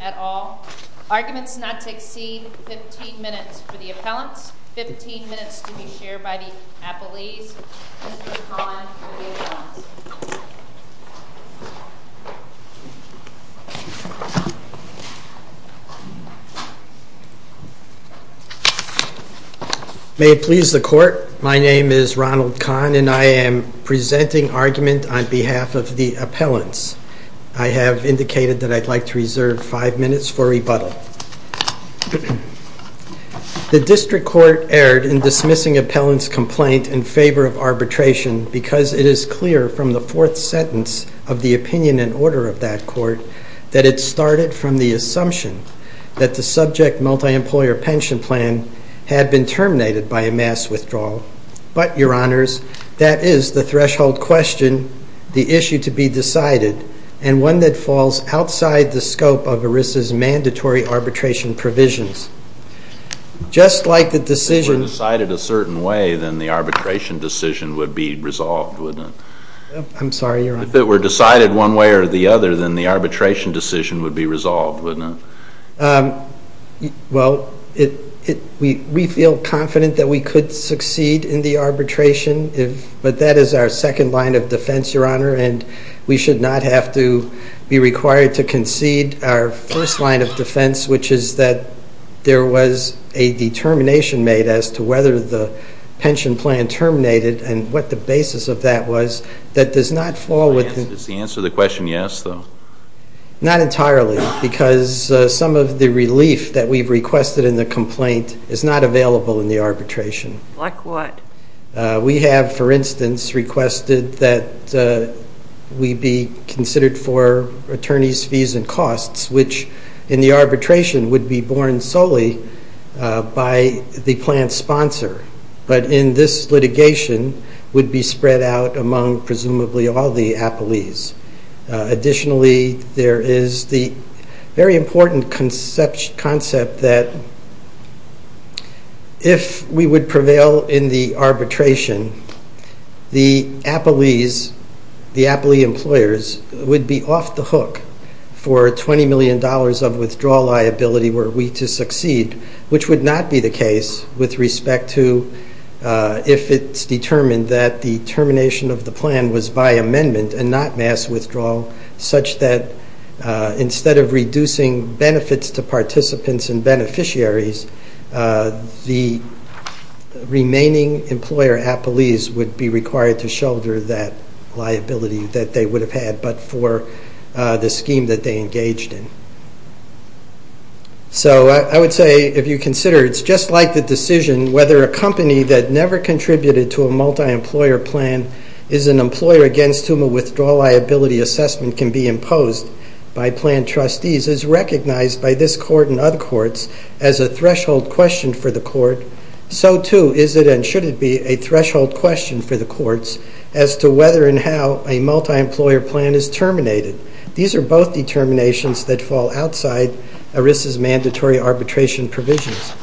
et al. Arguments not to exceed 15 minutes for the appellants, 15 minutes to be shared by the appellees. Mr. Collin for the appellants. May it please the court, my name is Ronald Kahn and I am presenting argument on behalf of the appellants. I have indicated that I'd like to reserve 5 minutes for rebuttal. The district court erred in dismissing appellant's complaint in favor of arbitration because it is clear from the fourth sentence of the opinion and order of that court that it started from the assumption that the subject multi-employer pension plan had been terminated by a mass withdrawal. But, your honors, that is the threshold question, the issue to be decided, and one that falls outside the scope of ERISA's mandatory arbitration provisions. Just like the decision... If it were decided a certain way, then the arbitration decision would be resolved, wouldn't it? I'm sorry, your honor. If it were decided one way or the other, then the arbitration decision would be resolved, wouldn't it? Well, we feel confident that we could succeed in the arbitration, but that is our second line of defense, your honor, and we should not have to be required to concede our first line of defense, which is that there was a determination made as to whether the pension plan terminated and what the basis of that was that does not fall within... Does the answer to the question yes, though? Not entirely, because some of the relief that we've requested in the complaint is not available in the arbitration. Like what? We have, for instance, requested that we be considered for attorneys' fees and costs, which in the arbitration would be borne solely by the plan sponsor, but in this litigation would be spread out among presumably all the appellees. Additionally, there is the very important concept that if we would prevail in the arbitration, the appellees, the appellee employers, would be off the hook for $20 million of withdrawal liability were we to succeed, which would not be the case with respect to if it's determined that the termination of the plan was by amendment and not mass withdrawal, such that instead of reducing benefits to participants and beneficiaries, the remaining employer appellees would be required to shoulder that liability that they would have had but for the scheme that they engaged in. So I would say, if you consider, it's just like the decision whether a company that never contributed to a multi-employer plan is an employer against whom a withdrawal liability assessment can be imposed by plan trustees is recognized by this court and other courts as a threshold question for the court. So, too, is it and should it be a threshold question for the courts as to whether and how a multi-employer plan is terminated. These are both determinations that fall outside ERISA's mandatory arbitration provisions.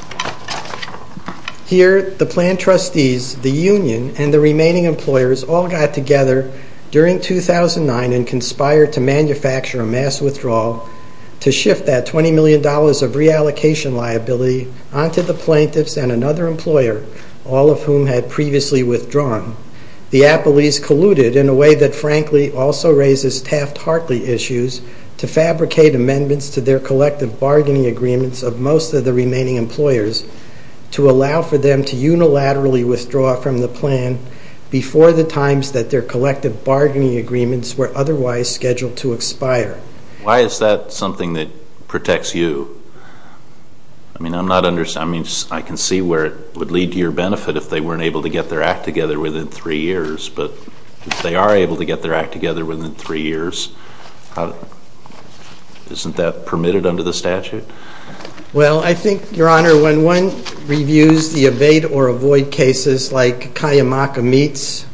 Here, the plan trustees, the union, and the remaining employers all got together during 2009 and conspired to manufacture a mass withdrawal to shift that $20 million of reallocation liability onto the plaintiffs and another employer, all of whom had previously withdrawn. The appellees colluded in a way that, frankly, also raises Taft-Hartley issues to fabricate amendments to their collective bargaining agreements of most of the remaining employers to allow for them to unilaterally withdraw from the plan before the times that their collective bargaining agreements were otherwise scheduled to expire. Why is that something that protects you? I mean, I can see where it would lead to your benefit if they weren't able to get their act together within three years, but if they are able to get their act together within three years, isn't that permitted under the statute? Well, I think, Your Honor, when one reviews the abate or avoid cases like Kayamaka Meats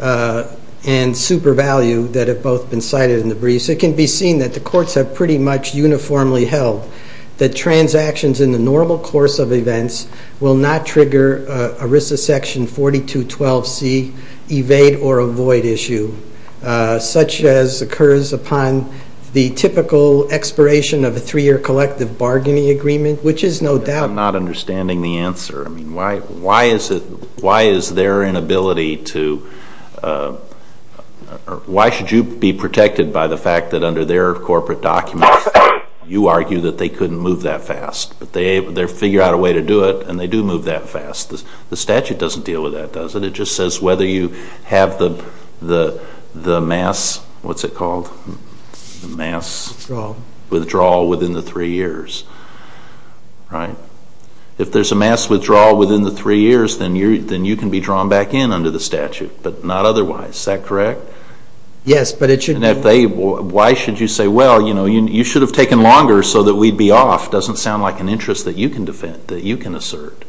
and Super Value that have both been cited in the briefs, it can be seen that the courts have pretty much uniformly held that transactions in the normal course of events will not trigger ERISA Section 4212C evade or avoid issue, such as occurs upon the typical expiration of a three-year collective bargaining agreement, which is no doubt. I'm not understanding the answer. I mean, why should you be protected by the fact that under their corporate documents, you argue that they couldn't move that fast, but they figure out a way to do it, and they do move that fast. The statute doesn't deal with that, does it? It just says whether you have the mass withdrawal within the three years. If there's a mass withdrawal within the three years, then you can be drawn back in under the statute, but not otherwise. Is that correct? Yes, but it should be. Why should you say, well, you should have taken longer so that we'd be off? It doesn't sound like an interest that you can assert.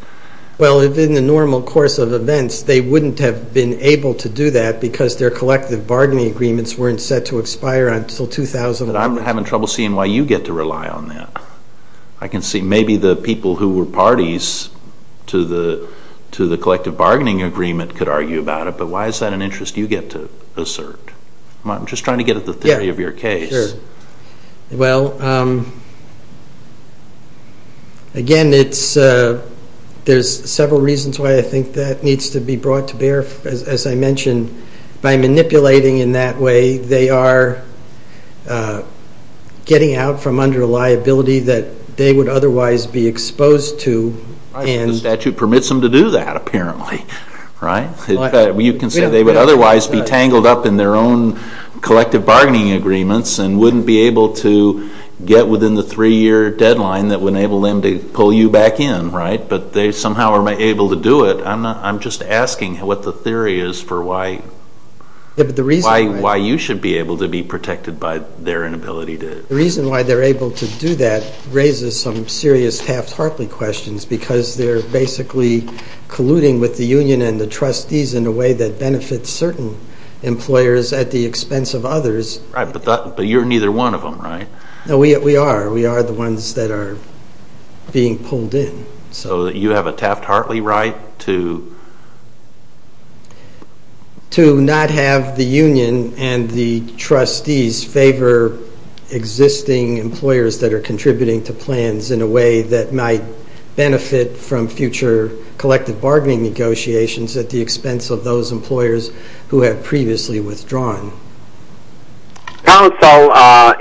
Well, in the normal course of events, they wouldn't have been able to do that because their collective bargaining agreements weren't set to expire until 2001. But I'm having trouble seeing why you get to rely on that. I can see maybe the people who were parties to the collective bargaining agreement could argue about it, but why is that an interest you get to assert? I'm just trying to get at the theory of your case. Well, again, there's several reasons why I think that needs to be brought to bear. As I mentioned, by manipulating in that way, they are getting out from under a liability that they would otherwise be exposed to. The statute permits them to do that apparently, right? You can say they would otherwise be tangled up in their own collective bargaining agreements and wouldn't be able to get within the three-year deadline that would enable them to pull you back in, right? But they somehow are able to do it. I'm just asking what the theory is for why you should be able to be protected by their inability to do it. The reason why they're able to do that raises some serious Taft-Hartley questions because they're basically colluding with the union and the trustees in a way that benefits certain employers at the expense of others. Right, but you're neither one of them, right? No, we are. We are the ones that are being pulled in. So you have a Taft-Hartley right to? To not have the union and the trustees favor existing employers that are contributing to plans in a way that might benefit from future collective bargaining negotiations at the expense of those employers who have previously withdrawn. Counsel,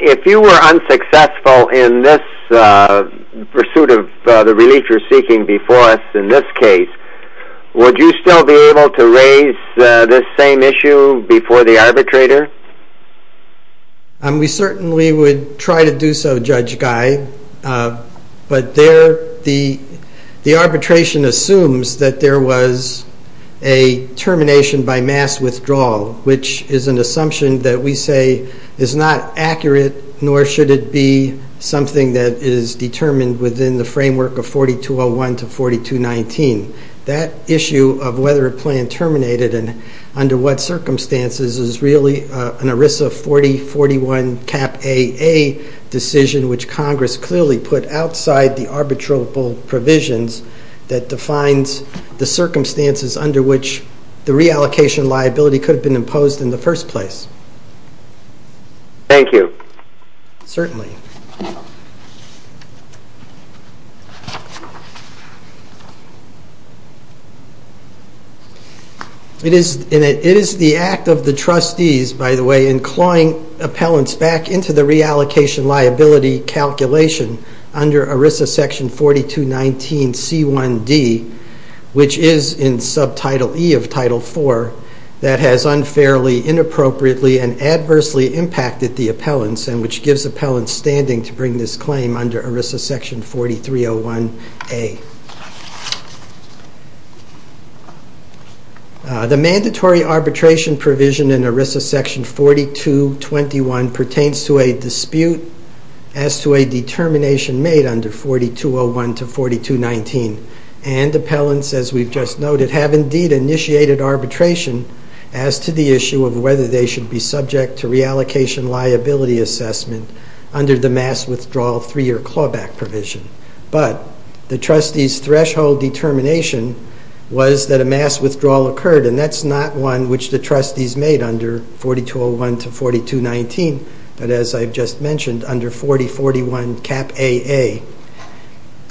if you were unsuccessful in this pursuit of the relief you're seeking before us in this case, would you still be able to raise this same issue before the arbitrator? We certainly would try to do so, Judge Guy, but the arbitration assumes that there was a termination by mass withdrawal, which is an assumption that we say is not accurate, nor should it be something that is determined within the framework of 4201 to 4219. That issue of whether a plan terminated and under what circumstances is really an ERISA 4041 Cap AA decision, which Congress clearly put outside the arbitrable provisions that defines the circumstances under which the reallocation liability could have been imposed in the first place. Thank you. Certainly. It is the act of the trustees, by the way, in clawing appellants back into the reallocation liability calculation under ERISA section 4219C1D, which is in subtitle E of title 4, that has unfairly, inappropriately, and adversely impacted the appellants and which gives appellants standing to bring this claim under ERISA section 4301A. The mandatory arbitration provision in ERISA section 4221 pertains to a dispute as to a determination made under 4201 to 4219, and appellants, as we've just noted, have indeed initiated arbitration as to the issue of whether they should be subject to reallocation liability assessment under the mass withdrawal three-year clawback provision. But the trustees' threshold determination was that a mass withdrawal occurred, and that's not one which the trustees made under 4201 to 4219, but as I've just mentioned, under 4041 cap AA.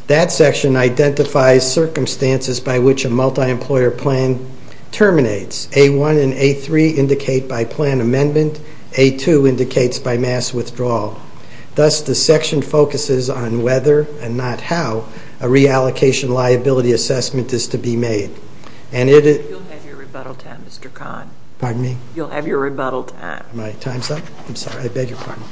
That section identifies circumstances by which a multi-employer plan terminates. A1 and A3 indicate by plan amendment. A2 indicates by mass withdrawal. Thus, the section focuses on whether, and not how, a reallocation liability assessment is to be made. You'll have your rebuttal time, Mr. Kahn. Pardon me? You'll have your rebuttal time. My time's up? I'm sorry. I beg your pardon.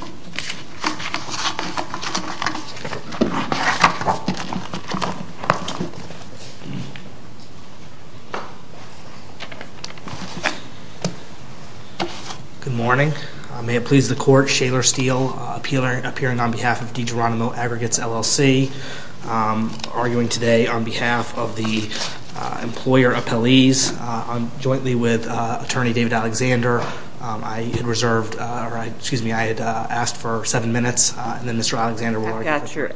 Good morning. May it please the Court, Shaler Steele, appealing on behalf of DeGeronimo Aggregates, LLC, arguing today on behalf of the employer appellees, jointly with Attorney David Alexander. I had reserved, or excuse me, I had asked for seven minutes, and then Mr. Alexander will argue. I got you.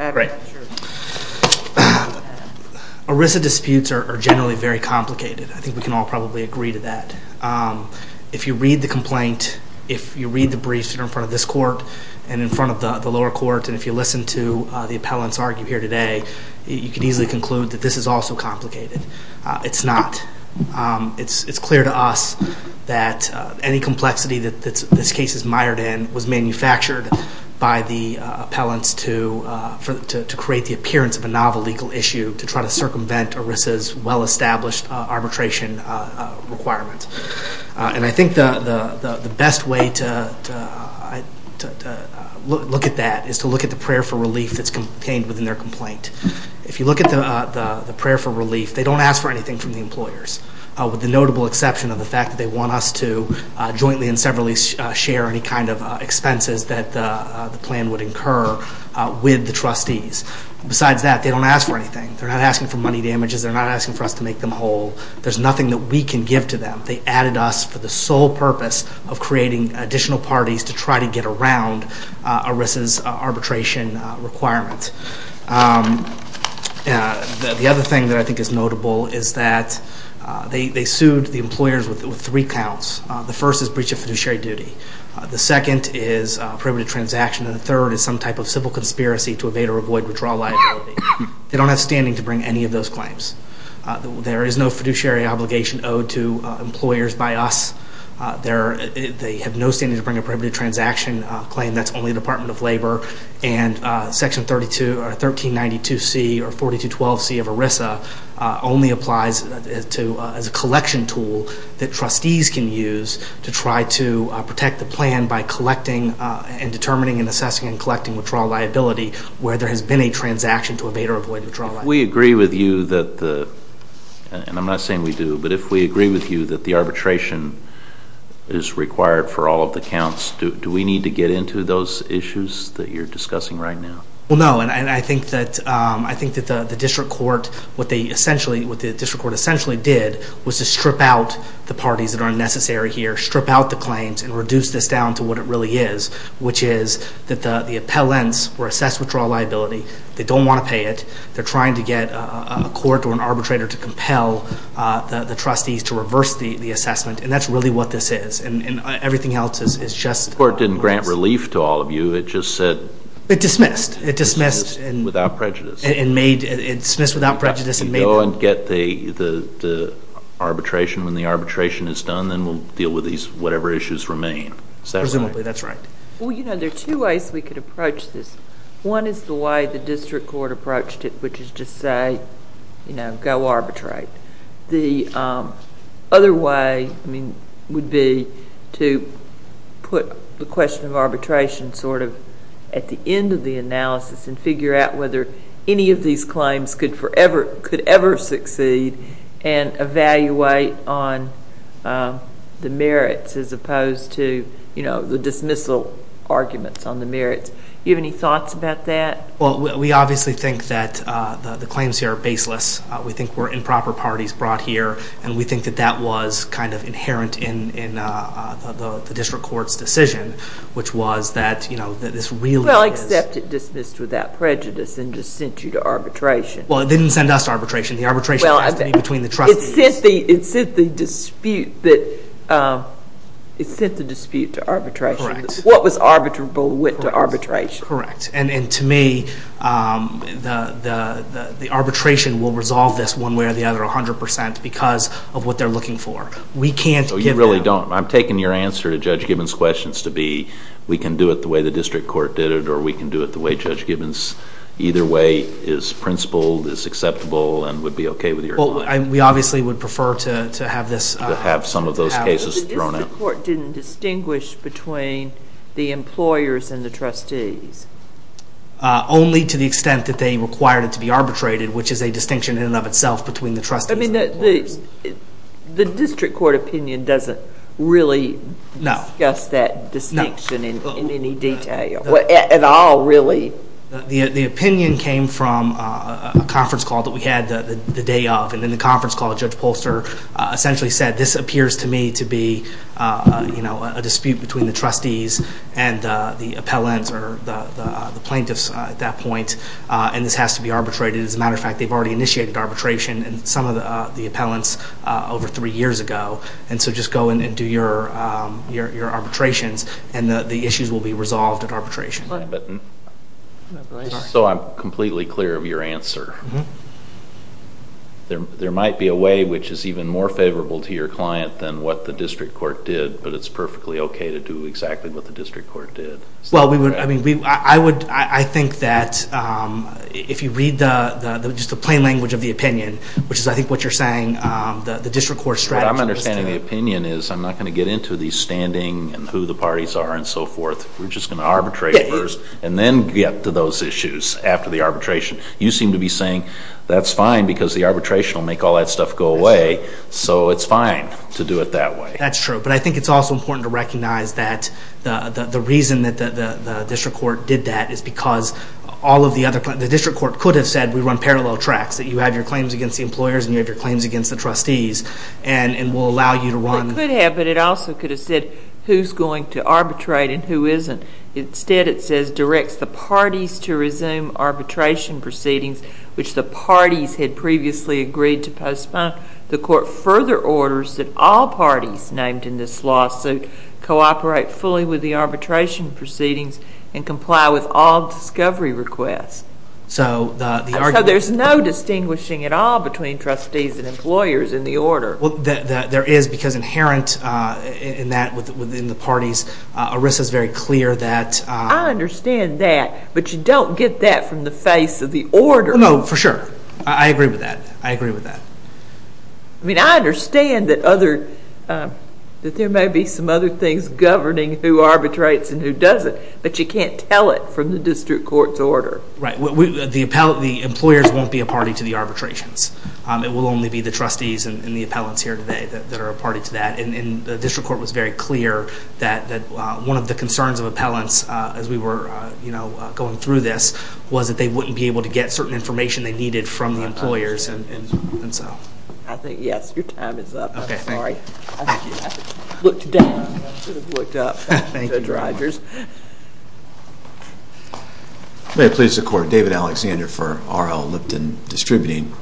ERISA disputes are generally very complicated. I think we can all probably agree to that. If you read the complaint, if you read the briefs that are in front of this court and in front of the lower court, and if you listen to the appellants argue here today, you can easily conclude that this is also complicated. It's not. It's clear to us that any complexity that this case is mired in was manufactured by the appellants to create the appearance of a novel legal issue to try to circumvent ERISA's well-established arbitration requirements. And I think the best way to look at that is to look at the prayer for relief that's contained within their complaint. If you look at the prayer for relief, they don't ask for anything from the employers, with the notable exception of the fact that they want us to jointly and severally share any kind of expenses that the plan would incur with the trustees. Besides that, they don't ask for anything. They're not asking for money damages. They're not asking for us to make them whole. There's nothing that we can give to them. They added us for the sole purpose of creating additional parties to try to get around ERISA's arbitration requirements. The other thing that I think is notable is that they sued the employers with three counts. The first is breach of fiduciary duty. The second is prohibited transaction. And the third is some type of civil conspiracy to evade or avoid withdrawal liability. They don't have standing to bring any of those claims. There is no fiduciary obligation owed to employers by us. They have no standing to bring a prohibited transaction claim. That's only the Department of Labor. And Section 1392C or 4212C of ERISA only applies as a collection tool that trustees can use to try to protect the plan by collecting and determining and assessing and collecting withdrawal liability where there has been a transaction to evade or avoid withdrawal liability. If we agree with you that the, and I'm not saying we do, but if we agree with you that the arbitration is required for all of the counts, do we need to get into those issues that you're discussing right now? Well, no. And I think that the district court, what the district court essentially did was to strip out the parties that are unnecessary here, strip out the claims, and reduce this down to what it really is, which is that the appellants were assessed withdrawal liability. They don't want to pay it. They're trying to get a court or an arbitrator to compel the trustees to reverse the assessment. And that's really what this is. And everything else is just... The court didn't grant relief to all of you. It just said... It dismissed. It dismissed. Without prejudice. It made, it dismissed without prejudice and made... Go and get the arbitration. When the arbitration is done, then we'll deal with these whatever issues remain. Is that right? Presumably that's right. Well, you know, there are two ways we could approach this. One is the way the district court approached it, which is to say, you know, go arbitrate. The other way would be to put the question of arbitration sort of at the end of the analysis and figure out whether any of these claims could ever succeed and evaluate on the merits as opposed to, you know, the dismissal arguments on the merits. Do you have any thoughts about that? Well, we obviously think that the claims here are baseless. We think we're improper parties brought here, and we think that that was kind of inherent in the district court's decision, which was that, you know, this really is... Well, except it dismissed without prejudice and just sent you to arbitration. Well, it didn't send us to arbitration. The arbitration has to be between the trustees. It sent the dispute that... It sent the dispute to arbitration. Correct. What was arbitrable went to arbitration. Correct. And to me, the arbitration will resolve this one way or the other 100 percent because of what they're looking for. We can't give them... So you really don't. I'm taking your answer to Judge Gibbons' questions to be, we can do it the way the district court did it or we can do it the way Judge Gibbons either way is principled, is acceptable, and would be okay with your... Well, we obviously would prefer to have this... To have some of those cases thrown out. The district court didn't distinguish between the employers and the trustees. Only to the extent that they required it to be arbitrated, which is a distinction in and of itself between the trustees and the employers. The district court opinion doesn't really discuss that distinction in any detail. At all, really. The opinion came from a conference call that we had the day of, and in the conference call, Judge Polster essentially said, this appears to me to be a dispute between the trustees and the appellants or the plaintiffs at that point, and this has to be arbitrated. As a matter of fact, they've already initiated arbitration in some of the appellants over three years ago, and so just go in and do your arbitrations, and the issues will be resolved at arbitration. So I'm completely clear of your answer. There might be a way which is even more favorable to your client than what the district court did, but it's perfectly okay to do exactly what the district court did. Well, I think that if you read just the plain language of the opinion, which is I think what you're saying, the district court strategy... What I'm understanding of the opinion is I'm not going to get into the standing and who the parties are and so forth. We're just going to arbitrate first and then get to those issues after the arbitration. You seem to be saying that's fine because the arbitration will make all that stuff go away, so it's fine to do it that way. That's true, but I think it's also important to recognize that the reason that the district court did that is because all of the other... The district court could have said we run parallel tracks, that you have your claims against the employers and you have your claims against the trustees, and we'll allow you to run... It could have, but it also could have said who's going to arbitrate and who isn't. Instead, it says directs the parties to resume arbitration proceedings, which the parties had previously agreed to postpone. The court further orders that all parties named in this lawsuit cooperate fully with the arbitration proceedings and comply with all discovery requests. So the argument... So there's no distinguishing at all between trustees and employers in the order. Well, there is because inherent in that within the parties, ERISA is very clear that... I understand that, but you don't get that from the face of the order. No, for sure. I agree with that. I agree with that. I mean, I understand that there may be some other things governing who arbitrates and who doesn't, but you can't tell it from the district court's order. Right. The employers won't be a party to the arbitrations. It will only be the trustees and the appellants here today that are a party to that. And the district court was very clear that one of the concerns of appellants as we were going through this was that they wouldn't be able to get certain information they needed from the employers. I think, yes, your time is up. I'm sorry. I looked down. I should have looked up. Thank you. May it please the court, David Alexander for R.L. Lipton Distributing.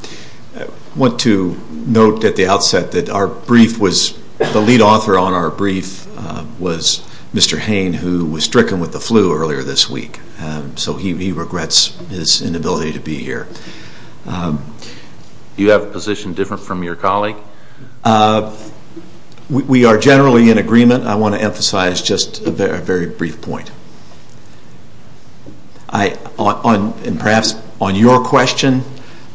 I want to note at the outset that our brief was... the lead author on our brief was Mr. Hain who was stricken with the flu earlier this week. So he regrets his inability to be here. Do you have a position different from your colleague? We are generally in agreement. I want to emphasize just a very brief point. Perhaps on your question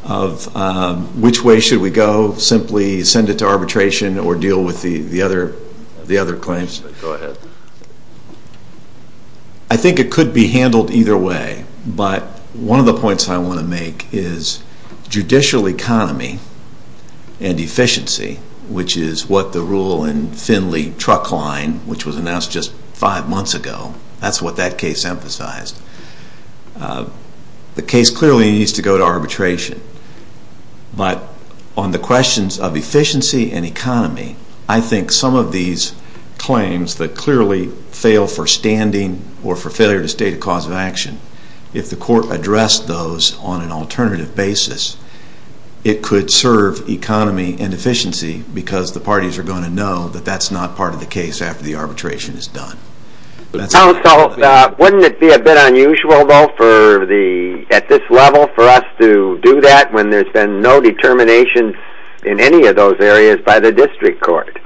of which way should we go, simply send it to arbitration or deal with the other claims? Go ahead. I think it could be handled either way. But one of the points I want to make is judicial economy and efficiency, which is what the rule in Finley Truck Line, which was announced just five months ago, that's what that case emphasized. The case clearly needs to go to arbitration. But on the questions of efficiency and economy, I think some of these claims that clearly fail for standing or for failure to state a cause of action, if the court addressed those on an alternative basis, it could serve economy and efficiency because the parties are going to know that that's not part of the case after the arbitration is done. Counsel, wouldn't it be a bit unusual, though, at this level for us to do that when there's been no determination in any of those areas by the district court?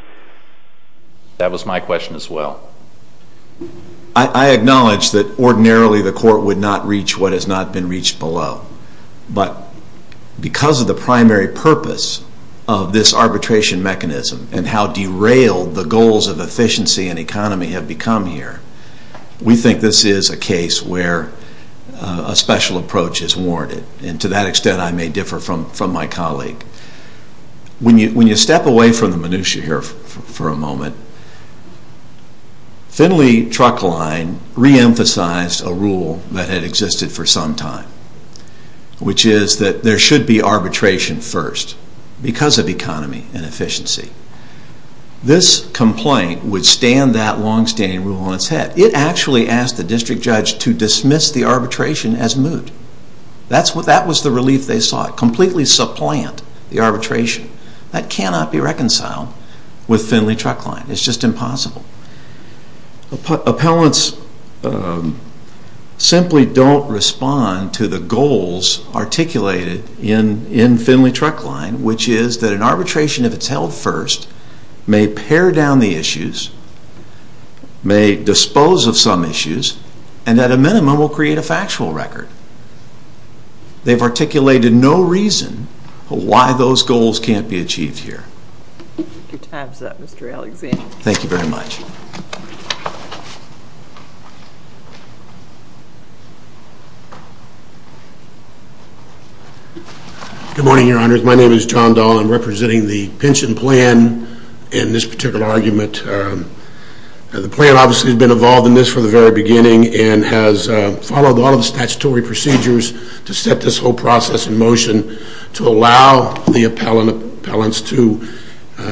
That was my question as well. I acknowledge that ordinarily the court would not reach what has not been reached below. But because of the primary purpose of this arbitration mechanism and how derailed the goals of efficiency and economy have become here, we think this is a case where a special approach is warranted. And to that extent I may differ from my colleague. When you step away from the minutiae here for a moment, Finley Truck Line reemphasized a rule that had existed for some time, which is that there should be arbitration first because of economy and efficiency. This complaint would stand that longstanding rule on its head. It actually asked the district judge to dismiss the arbitration as moot. That was the relief they sought. Completely supplant the arbitration. That cannot be reconciled with Finley Truck Line. It's just impossible. Appellants simply don't respond to the goals articulated in Finley Truck Line, which is that an arbitration, if it's held first, may pare down the issues, may dispose of some issues, and at a minimum will create a factual record. They've articulated no reason why those goals can't be achieved here. Your time is up, Mr. Alexander. Thank you very much. Good morning, Your Honors. My name is John Doll. I'm representing the pension plan in this particular argument. The plan obviously has been involved in this from the very beginning and has followed all of the statutory procedures to set this whole process in motion to allow the appellants to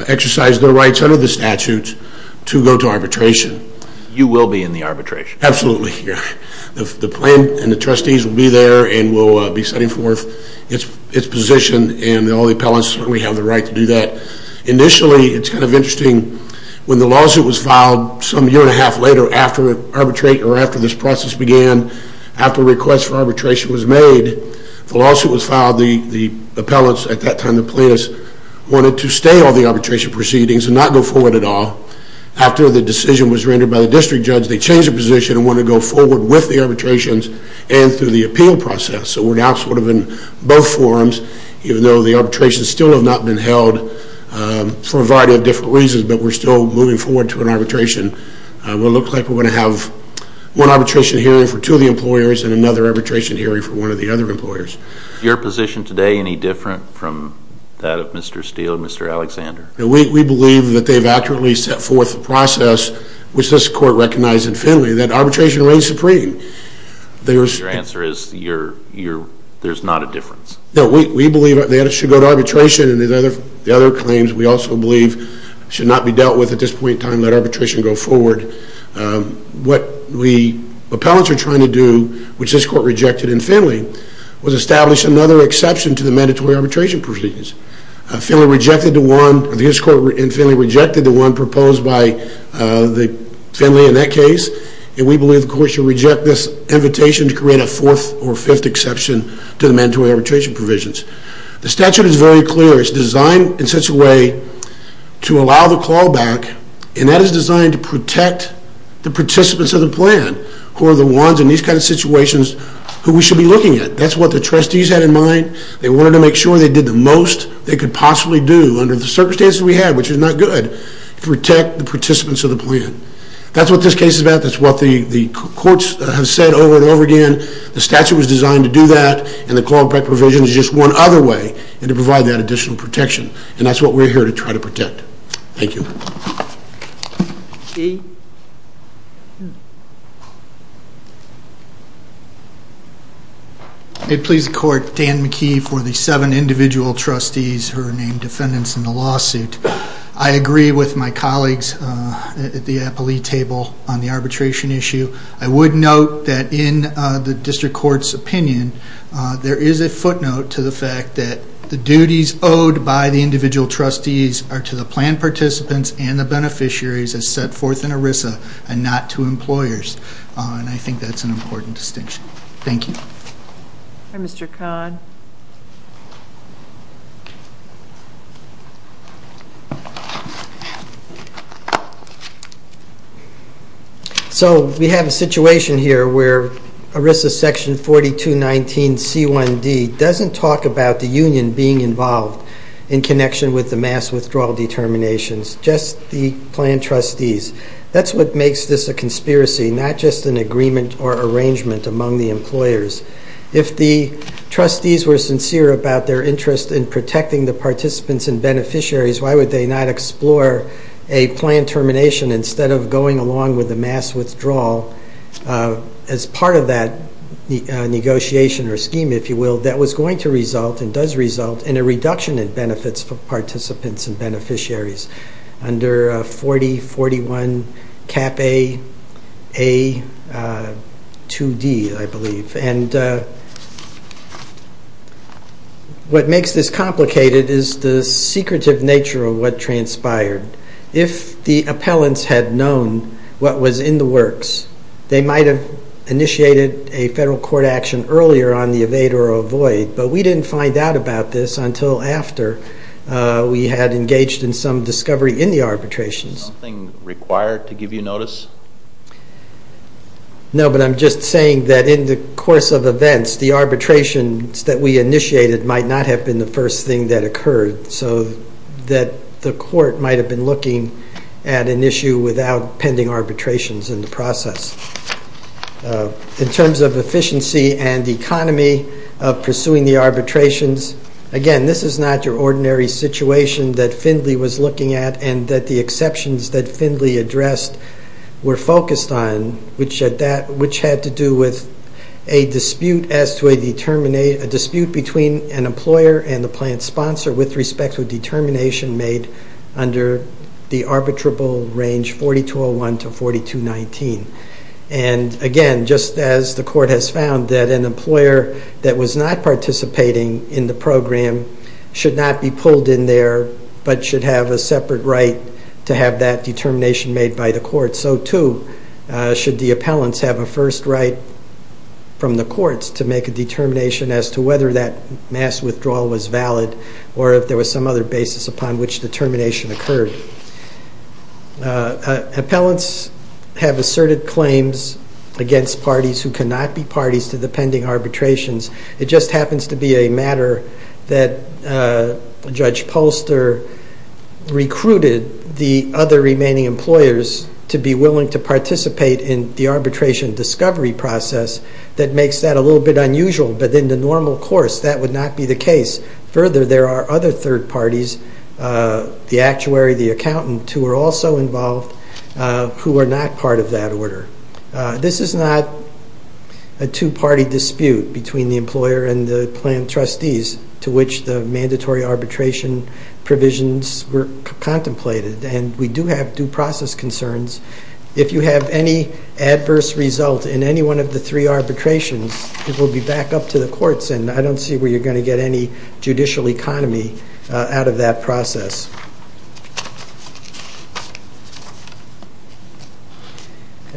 exercise their rights under the statutes to go to arbitration. You will be in the arbitration? Absolutely. The plan and the trustees will be there and will be setting forth its position, and all the appellants certainly have the right to do that. Initially, it's kind of interesting. When the lawsuit was filed some year and a half later after arbitration or after this process began, after a request for arbitration was made, the lawsuit was filed. The appellants at that time, the plaintiffs, wanted to stay on the arbitration proceedings and not go forward at all. After the decision was rendered by the district judge, they changed their position and wanted to go forward with the arbitrations and through the appeal process. So we're now sort of in both forums, even though the arbitrations still have not been held for a variety of different reasons, but we're still moving forward to an arbitration. It will look like we're going to have one arbitration hearing for two of the employers and another arbitration hearing for one of the other employers. Is your position today any different from that of Mr. Steele and Mr. Alexander? We believe that they've accurately set forth the process, which this court recognized in Finley, that arbitration reigns supreme. Your answer is there's not a difference? No. We believe that it should go to arbitration, and the other claims, we also believe, should not be dealt with at this point in time. Let arbitration go forward. What the appellants are trying to do, which this court rejected in Finley, was establish another exception to the mandatory arbitration provisions. Finley rejected the one proposed by Finley in that case, and we believe the court should reject this invitation to create a fourth or fifth exception to the mandatory arbitration provisions. The statute is very clear. It's designed in such a way to allow the callback, and that is designed to protect the participants of the plan who are the ones in these kind of situations who we should be looking at. That's what the trustees had in mind. They wanted to make sure they did the most they could possibly do under the circumstances we had, which is not good, to protect the participants of the plan. That's what this case is about. That's what the courts have said over and over again. The statute was designed to do that, and the callback provision is just one other way to provide that additional protection, and that's what we're here to try to protect. Thank you. I please the court, Dan McKee, for the seven individual trustees who are named defendants in the lawsuit. I agree with my colleagues at the appellee table on the arbitration issue. I would note that in the district court's opinion, there is a footnote to the fact that the duties owed by the individual trustees are to the plan participants and the beneficiaries as set forth in ERISA and not to employers, and I think that's an important distinction. Thank you. Mr. Kahn. So we have a situation here where ERISA section 4219C1D doesn't talk about the union being involved in connection with the mass withdrawal determinations, just the plan trustees. That's what makes this a conspiracy, not just an agreement or arrangement among the employers. If the trustees were sincere about their interest in protecting the participants and beneficiaries, why would they not explore a plan termination instead of going along with the mass withdrawal as part of that negotiation or scheme, if you will, that was going to result and does result in a reduction in benefits for participants and beneficiaries under 4041 Cap A 2D, I believe. What makes this complicated is the secretive nature of what transpired. If the appellants had known what was in the works, they might have initiated a federal court action earlier on the evade or avoid, but we didn't find out about this until after we had engaged in some discovery in the arbitrations. Nothing required to give you notice? No, but I'm just saying that in the course of events, the arbitrations that we initiated might not have been the first thing that occurred, so that the court might have been looking at an issue without pending arbitrations in the process. In terms of efficiency and economy of pursuing the arbitrations, again, this is not your ordinary situation that Findley was looking at and that the exceptions that Findley addressed were focused on, which had to do with a dispute as to a determination, a dispute between an employer and the plant sponsor with respect to a determination made under the arbitrable range 4201 to 4219. And again, just as the court has found that an employer that was not participating in the program should not be pulled in there but should have a separate right to have that determination made by the court, so too should the appellants have a first right from the courts to make a determination as to whether that mass withdrawal was valid or if there was some other basis upon which the termination occurred. Appellants have asserted claims against parties who cannot be parties to the pending arbitrations. It just happens to be a matter that Judge Polster recruited the other remaining employers to be willing to participate in the arbitration discovery process that makes that a little bit unusual. But in the normal course, that would not be the case. Further, there are other third parties, the actuary, the accountant, who are also involved who are not part of that order. This is not a two-party dispute between the employer and the plant trustees to which the mandatory arbitration provisions were contemplated. And we do have due process concerns. If you have any adverse result in any one of the three arbitrations, it will be back up to the courts, and I don't see where you're going to get any judicial economy out of that process.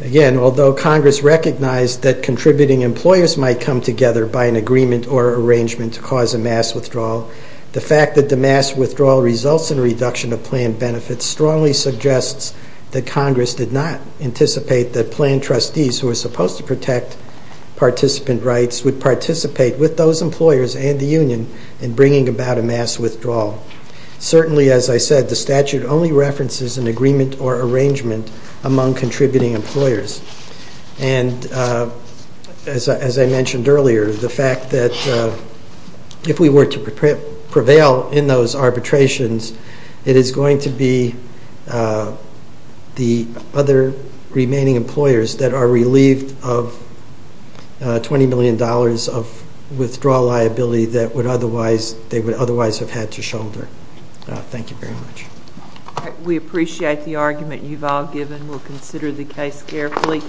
Again, although Congress recognized that contributing employers might come together by an agreement or arrangement to cause a mass withdrawal, the fact that the mass withdrawal results in a reduction of plant benefits strongly suggests that Congress did not anticipate that plant trustees, who are supposed to protect participant rights, would participate with those employers and the union in bringing about a mass withdrawal. Certainly, as I said, the statute only references an agreement or arrangement among contributing employers. And as I mentioned earlier, the fact that if we were to prevail in those arbitrations, it is going to be the other remaining employers that are relieved of $20 million of withdrawal liability that they would otherwise have had to shoulder. Thank you very much. We appreciate the argument you've all given. We'll consider the case carefully.